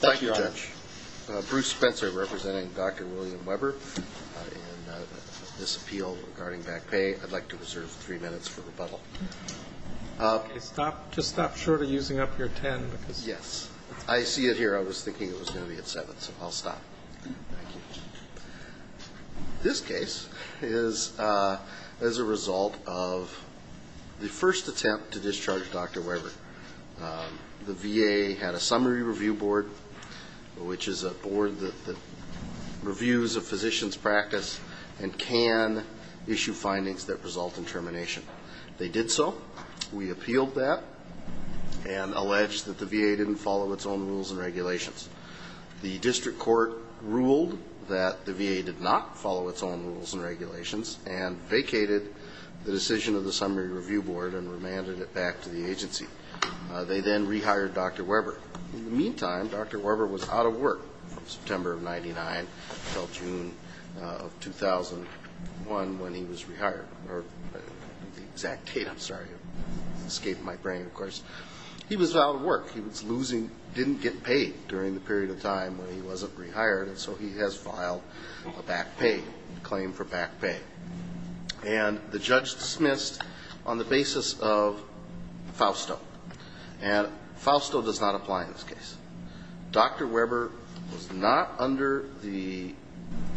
Thank you, Judge. Bruce Spencer representing Dr. William Weber in this appeal regarding back pay. I'd like to reserve three minutes for rebuttal. Stop. Just stop shortly using up your 10. Yes. I see it here. I was thinking it was going to be at 7. So I'll stop. This case is as a result of the first attempt to discharge Dr. Weber. The VA had a summary review board, which is a board that reviews a physician's practice and can issue findings that result in termination. They did so. We appealed that and alleged that the VA didn't follow its own rules and regulations. The district court ruled that the VA did not follow its own rules and regulations and vacated the decision of the summary review board and remanded it back to the agency. They then rehired Dr. Weber. In the meantime, Dr. Weber was out of work from September of 1999 until June of 2001 when he was rehired. The exact date, I'm sorry, escaped my brain, of course. He was out of work. He was losing, didn't get paid during the period of time when he wasn't rehired. And so he has filed a back pay, a claim for back pay. And the judge dismissed on the basis of Fausto. And Fausto does not apply in this case. Dr. Weber was not under the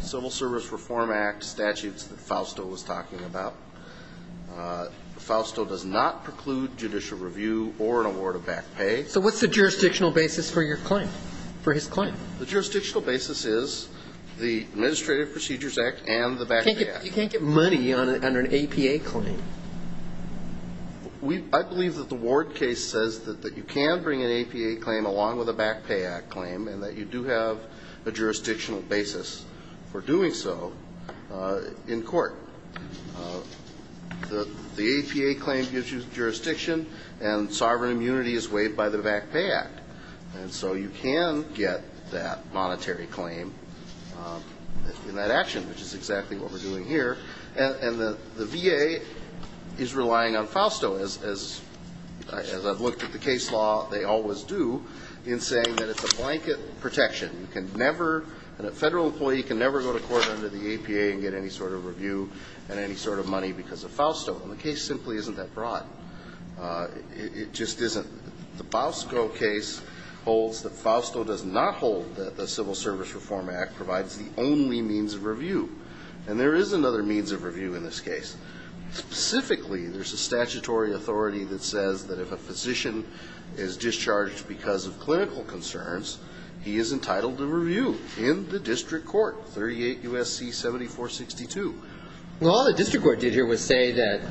Civil Service Reform Act statutes that Fausto was talking about. Fausto does not preclude judicial review or an award of back pay. So what's the jurisdictional basis for your claim, for his claim? The jurisdictional basis is the Administrative Procedures Act and the Back Pay Act. You can't get money under an APA claim. I believe that the Ward case says that you can bring an APA claim along with a Back Pay Act claim and that you do have a jurisdictional basis for doing so in court. The APA claim gives you jurisdiction and sovereign immunity is waived by the Back Pay Act. And so you can get that monetary claim in that action, which is exactly what we're doing here. And the VA is relying on Fausto, as I've looked at the case law, they always do, in saying that it's a blanket protection. You can never, a Federal employee can never go to court under the APA and get any sort of review and any sort of money because of Fausto. And the case simply isn't that broad. It just isn't. The Fausto case holds that Fausto does not hold that the Civil Service Reform Act provides the only means of review. And there is another means of review in this case. Specifically, there's a statutory authority that says that if a physician is discharged because of clinical concerns, he is entitled to review in the district court, 38 U.S.C. 7462. Well, all the district court did here was say that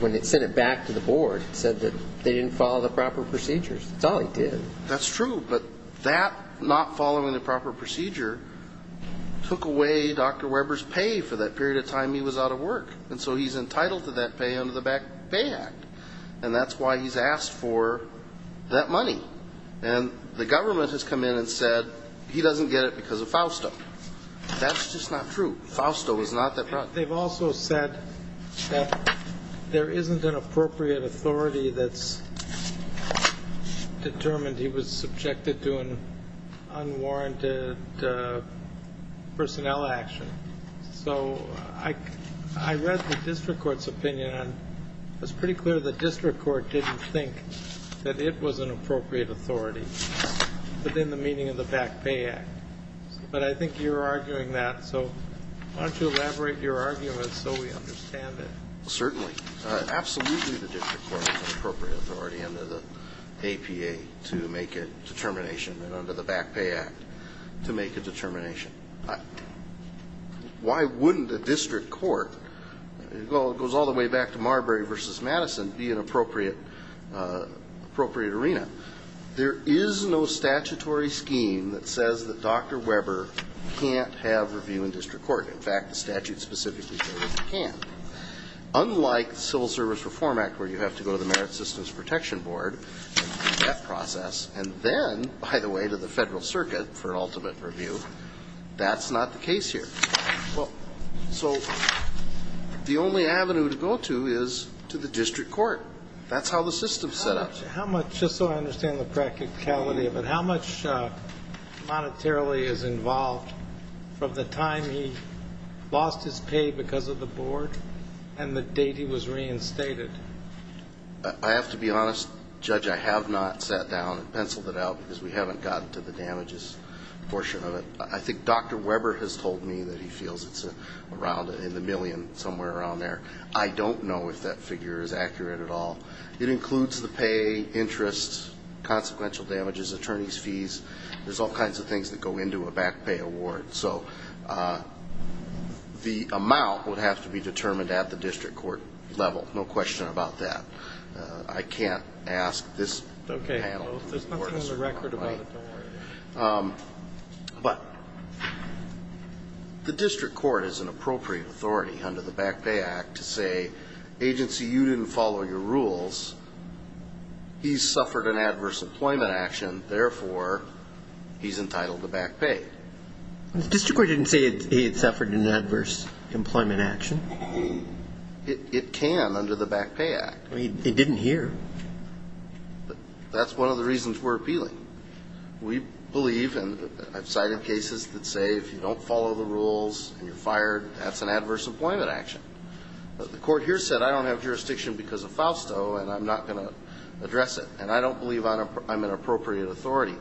when it sent it back to the board, it said that they didn't follow the proper procedures. That's all he did. That's true. But that not following the proper procedure took away Dr. Weber's pay for that period of time he was out of work. And so he's entitled to that pay under the Back Pay Act. And that's why he's asked for that money. And the government has come in and said he doesn't get it because of Fausto. That's just not true. They've also said that there isn't an appropriate authority that's determined he was subjected to an unwarranted personnel action. So I read the district court's opinion. It was pretty clear the district court didn't think that it was an appropriate authority within the meaning of the Back Pay Act. But I think you're arguing that. So why don't you elaborate your argument so we understand it. Certainly. Absolutely the district court is an appropriate authority under the APA to make a determination and under the Back Pay Act to make a determination. Why wouldn't the district court, it goes all the way back to Marbury v. Madison, be an appropriate arena? There is no statutory scheme that says that Dr. Weber can't have review in district court. In fact, the statute specifically says he can't. Unlike the Civil Service Reform Act where you have to go to the Merit Systems Protection Board, that process, and then, by the way, to the Federal Circuit for an ultimate review, that's not the case here. So the only avenue to go to is to the district court. That's how the system is set up. How much, just so I understand the practicality of it, how much monetarily is involved from the time he lost his pay because of the board and the date he was reinstated? I have to be honest, Judge, I have not sat down and penciled it out because we haven't gotten to the damages portion of it. I think Dr. Weber has told me that he feels it's around in the million, somewhere around there. I don't know if that figure is accurate at all. It includes the pay, interest, consequential damages, attorney's fees. There's all kinds of things that go into a back pay award. So the amount would have to be determined at the district court level, no question about that. I can't ask this panel. There's nothing on the record about it, don't worry. But the district court has an appropriate authority under the Back Pay Act to say, agency, you didn't follow your rules. He suffered an adverse employment action. Therefore, he's entitled to back pay. The district court didn't say he had suffered an adverse employment action. It can under the Back Pay Act. It didn't here. That's one of the reasons we're appealing. We believe, and I've cited cases that say if you don't follow the rules and you're fired, that's an adverse employment action. The court here said I don't have jurisdiction because of Fausto and I'm not going to address it. And I don't believe I'm an appropriate authority.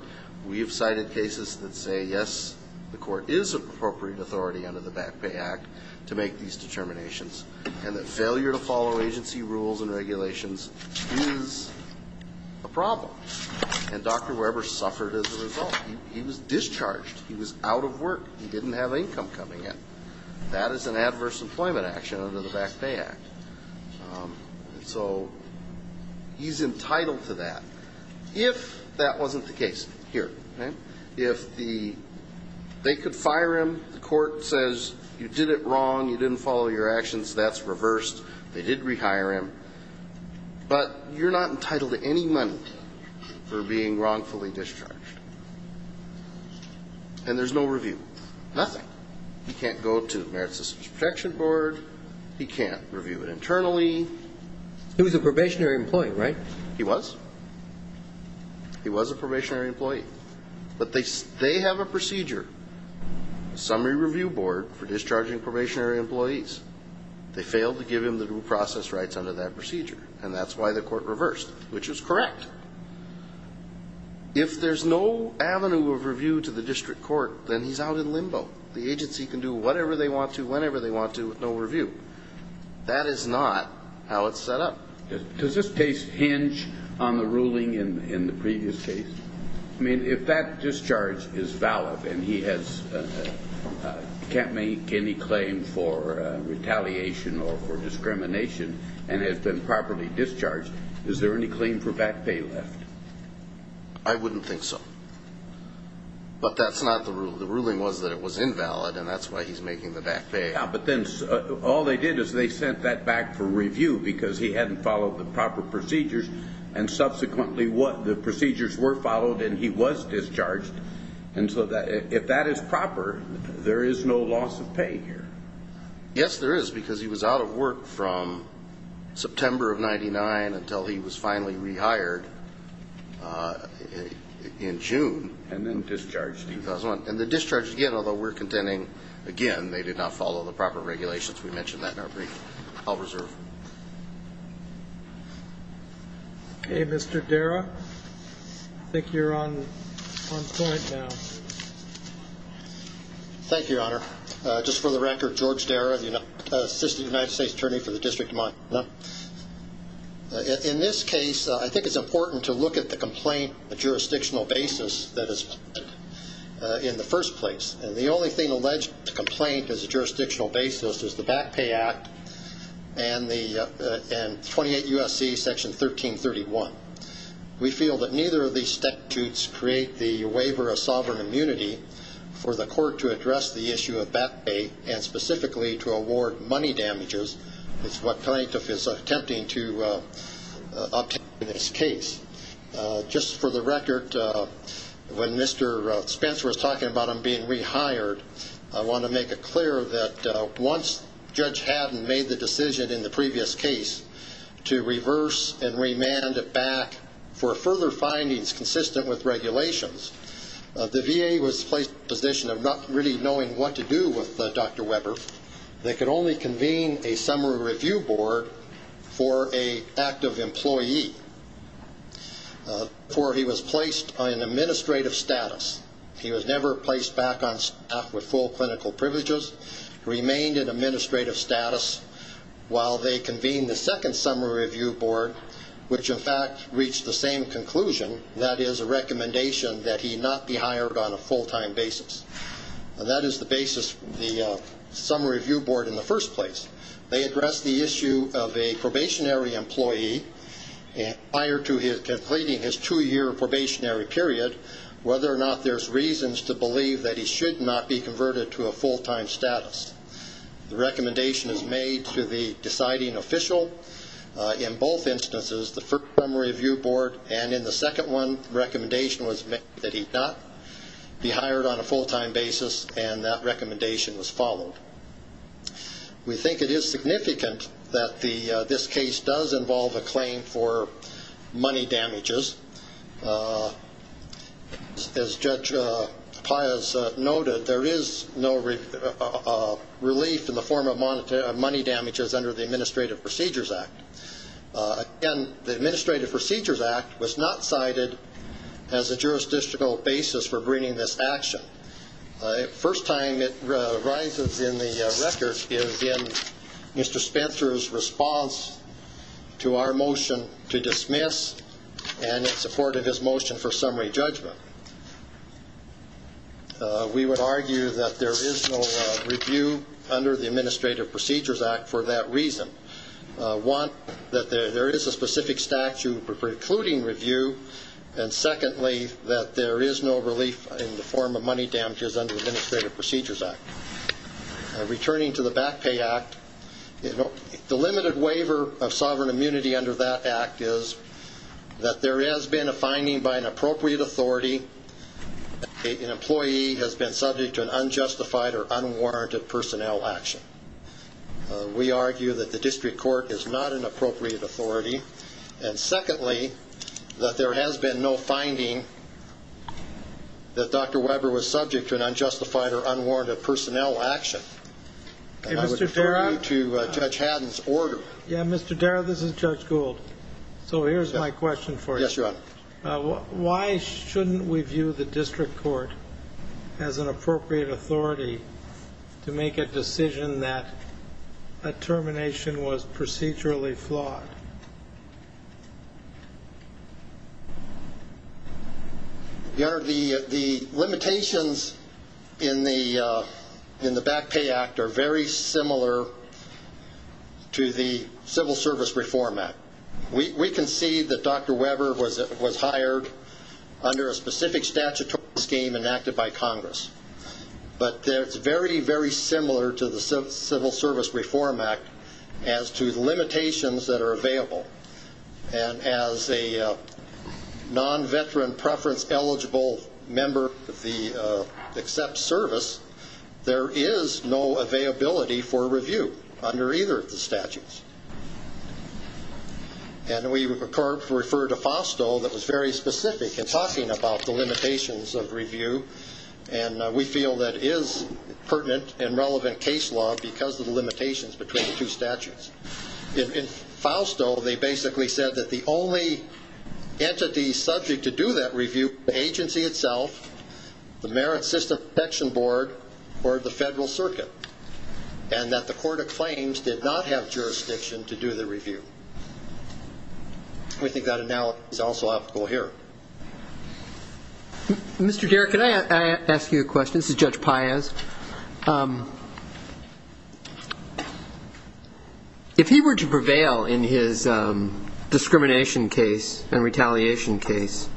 We have cited cases that say, yes, the court is an appropriate authority under the Back Pay Act to make these determinations. And that failure to follow agency rules and regulations is a problem. And Dr. Weber suffered as a result. He was discharged. He was out of work. He didn't have income coming in. That is an adverse employment action under the Back Pay Act. And so he's entitled to that. If that wasn't the case here, if they could fire him, the court says you did it wrong, you didn't follow your actions, that's reversed. They did rehire him. But you're not entitled to any money for being wrongfully discharged. And there's no review. Nothing. He can't go to the Merit Systems Protection Board. He can't review it internally. He was a probationary employee, right? He was. He was a probationary employee. But they have a procedure, a summary review board, for discharging probationary employees. They failed to give him the due process rights under that procedure. And that's why the court reversed, which is correct. If there's no avenue of review to the district court, then he's out in limbo. The agency can do whatever they want to whenever they want to with no review. That is not how it's set up. Does this case hinge on the ruling in the previous case? I mean, if that discharge is valid and he can't make any claim for retaliation or for discrimination and has been properly discharged, is there any claim for back pay left? I wouldn't think so. But that's not the ruling. The ruling was that it was invalid, and that's why he's making the back pay. Yeah, but then all they did is they sent that back for review because he hadn't followed the proper procedures. And subsequently, the procedures were followed, and he was discharged. And so if that is proper, there is no loss of pay here. Yes, there is, because he was out of work from September of 1999 until he was finally rehired in June. And then discharged in 2001. And then discharged again, although we're contending, again, they did not follow the proper regulations. We mentioned that in our briefing. I'll reserve. Okay, Mr. Dara, I think you're on point now. Thank you, Your Honor. Just for the record, George Dara, Assistant United States Attorney for the District of Montana. In this case, I think it's important to look at the complaint on a jurisdictional basis that is in the first place. And the only thing alleged in the complaint as a jurisdictional basis is the Back Pay Act and 28 U.S.C. Section 1331. We feel that neither of these statutes create the waiver of sovereign immunity for the court to address the issue of back pay and specifically to award money damages. It's what plaintiff is attempting to obtain in this case. Just for the record, when Mr. Spencer was talking about him being rehired, I want to make it clear that once Judge Haddon made the decision in the previous case to reverse and remand it back for further findings consistent with regulations, the VA was placed in a position of not really knowing what to do with Dr. Weber. They could only convene a summary review board for an active employee, for he was placed on an administrative status. He was never placed back on staff with full clinical privileges, remained in administrative status, while they convened the second summary review board, which, in fact, reached the same conclusion, that is a recommendation that he not be hired on a full-time basis. And that is the basis of the summary review board in the first place. They addressed the issue of a probationary employee prior to completing his two-year probationary period, whether or not there's reasons to believe that he should not be converted to a full-time status. The recommendation is made to the deciding official in both instances, the first summary review board, and in the second one, the recommendation was made that he not be hired on a full-time basis, and that recommendation was followed. We think it is significant that this case does involve a claim for money damages. As Judge Paez noted, there is no relief in the form of money damages under the Administrative Procedures Act. Again, the Administrative Procedures Act was not cited as a jurisdictional basis for bringing this action. The first time it arises in the record is in Mr. Spencer's response to our motion to dismiss, and it supported his motion for summary judgment. We would argue that there is no review under the Administrative Procedures Act for that reason. One, that there is a specific statute precluding review, and secondly, that there is no relief in the form of money damages under the Administrative Procedures Act. Returning to the Back Pay Act, the limited waiver of sovereign immunity under that act is that there has been a finding by an appropriate authority that an employee has been subject to an unjustified or unwarranted personnel action. We argue that the district court is not an appropriate authority, and secondly, that there has been no finding that Dr. Weber was subject to an unjustified or unwarranted personnel action. I would refer you to Judge Haddon's order. Yeah, Mr. Darrow, this is Judge Gould. So here's my question for you. Yes, Your Honor. Why shouldn't we view the district court as an appropriate authority to make a decision that a termination was procedurally flawed? Your Honor, the limitations in the Back Pay Act are very similar to the Civil Service Reform Act. We concede that Dr. Weber was hired under a specific statutory scheme enacted by Congress, but it's very, very similar to the Civil Service Reform Act as to the limitations that are available. And as a non-veteran preference eligible member of the except service, there is no availability for review under either of the statutes. And we refer to FOSTO that was very specific in talking about the limitations of review, and we feel that is pertinent and relevant case law because of the limitations between the two statutes. In FOSTO, they basically said that the only entity subject to do that review was the agency itself, the Merit System Protection Board, or the Federal Circuit, and that the court of claims did not have jurisdiction to do the review. We think that analogy is also applicable here. Mr. Derrick, can I ask you a question? This is Judge Paez. If he were to prevail in his discrimination case and retaliation case,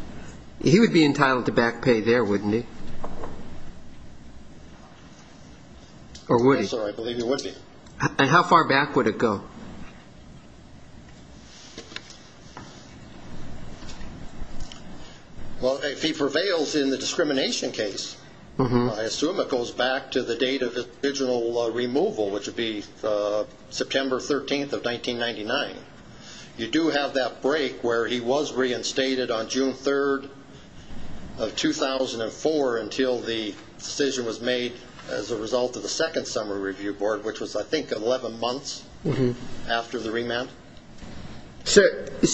he would be entitled to back pay there, wouldn't he? Or would he? I'm sorry, I believe he would be. And how far back would it go? Well, if he prevails in the discrimination case, I assume it goes back to the date of his original removal, which would be September 13th of 1999. You do have that break where he was reinstated on June 3rd of 2004 until the decision was made as a result of the second summer review board, which was, I think, 11 months after the remand. So if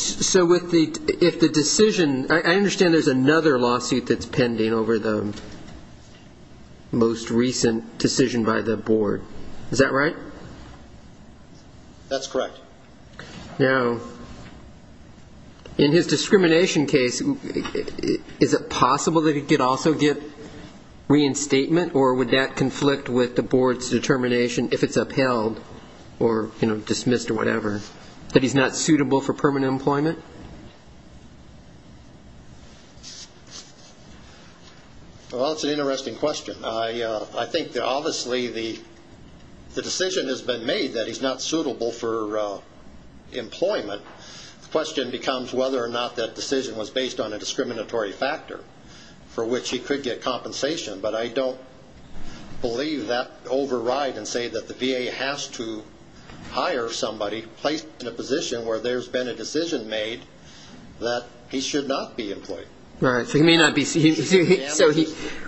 the decision ‑‑ I understand there's another lawsuit that's pending over the most recent decision by the board. Is that right? That's correct. Now, in his discrimination case, is it possible that he could also get reinstatement, or would that conflict with the board's determination if it's upheld or dismissed or whatever, that he's not suitable for permanent employment? Well, that's an interesting question. I think that obviously the decision has been made that he's not suitable for employment. The question becomes whether or not that decision was based on a discriminatory factor for which he could get compensation. But I don't believe that override and say that the VA has to hire somebody placed in a position where there's been a decision made that he should not be employed. All right. So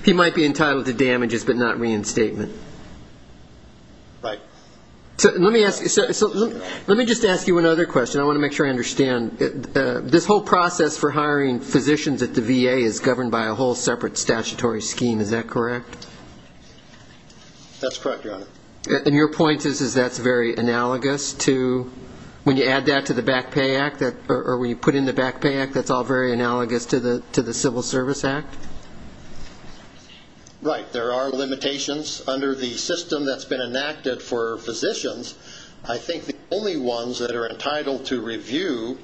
he might be entitled to damages but not reinstatement. Right. So let me just ask you another question. I want to make sure I understand. This whole process for hiring physicians at the VA is governed by a whole separate statutory scheme. Is that correct? That's correct, Your Honor. And your point is that's very analogous to when you add that to the Back Pay Act or when you put in the Back Pay Act, that's all very analogous to the Civil Service Act? Right. There are limitations under the system that's been enacted for physicians. I think the only ones that are entitled to review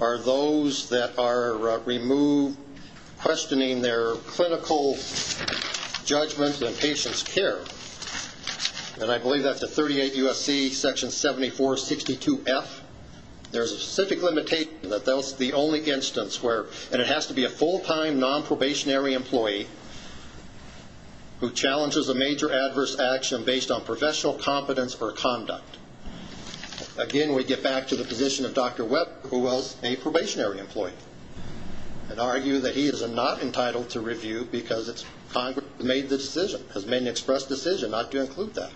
are those that are removed, questioning their clinical judgment and patient's care. And I believe that's at 38 U.S.C. Section 7462F. There's a specific limitation that that's the only instance where and it has to be a full-time nonprobationary employee who challenges a major adverse action based on professional competence or conduct. Again, we get back to the position of Dr. Webb who was a probationary employee and argued that he is not entitled to review because Congress made the decision, has made an express decision not to include that.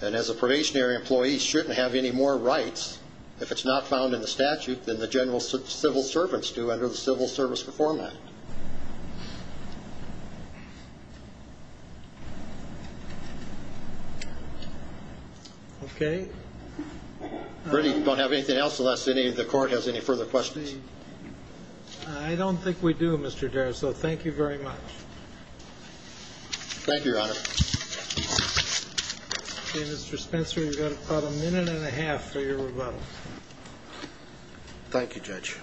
And as a probationary employee, he shouldn't have any more rights, if it's not found in the statute, than the general civil servants do under the Civil Service Reform Act. Okay. If we don't have anything else, unless any of the court has any further questions. I don't think we do, Mr. Daris, so thank you very much. Thank you, Your Honor. Okay, Mr. Spencer, you've got about a minute and a half for your rebuttal. Thank you, Judge.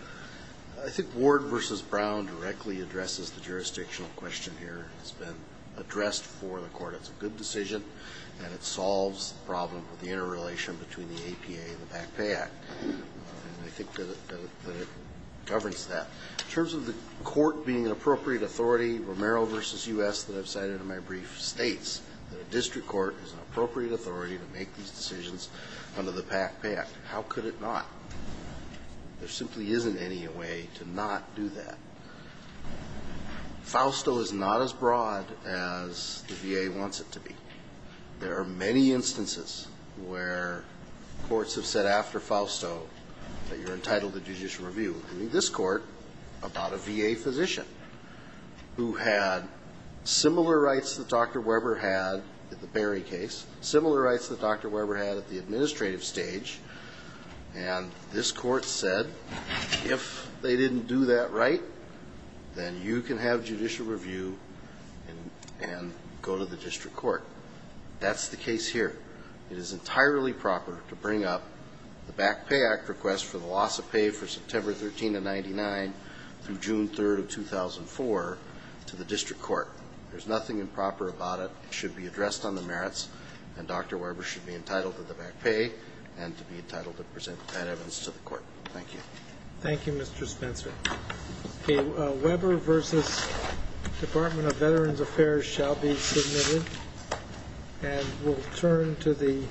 I think Ward v. Brown directly addresses the jurisdictional question here. It's been addressed for the court. It's a good decision and it solves the problem with the interrelation between the APA and the Back Pay Act. And I think that it governs that. In terms of the court being an appropriate authority, Romero v. U.S., that I've cited in my brief, states that a district court is an appropriate authority to make these decisions under the Back Pay Act. How could it not? There simply isn't any way to not do that. Fausto is not as broad as the VA wants it to be. There are many instances where courts have said after Fausto that you're entitled to judicial review, including this court, about a VA physician who had similar rights that Dr. Weber had at the Berry case, similar rights that Dr. Weber had at the administrative stage, and this court said if they didn't do that right, then you can have judicial review and go to the district court. That's the case here. It is entirely proper to bring up the Back Pay Act request for the loss of pay for September 13 of 1999 through June 3 of 2004 to the district court. There's nothing improper about it. It should be addressed on the merits, and Dr. Weber should be entitled to the back pay and to be entitled to present that evidence to the court. Thank you. Thank you, Mr. Spencer. Weber v. Department of Veterans Affairs shall be submitted, and we'll turn to the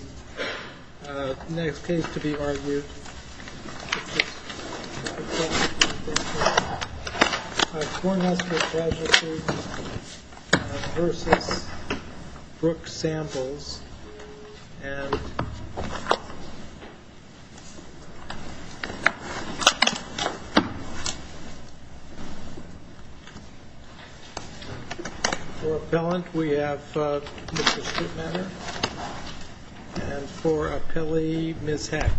next case to be argued. I have a question. I have Cornhusker graduate student versus Brooke Samples. And for appellant, we have Mr. Streetmanner, and for appellee, Ms. Heck.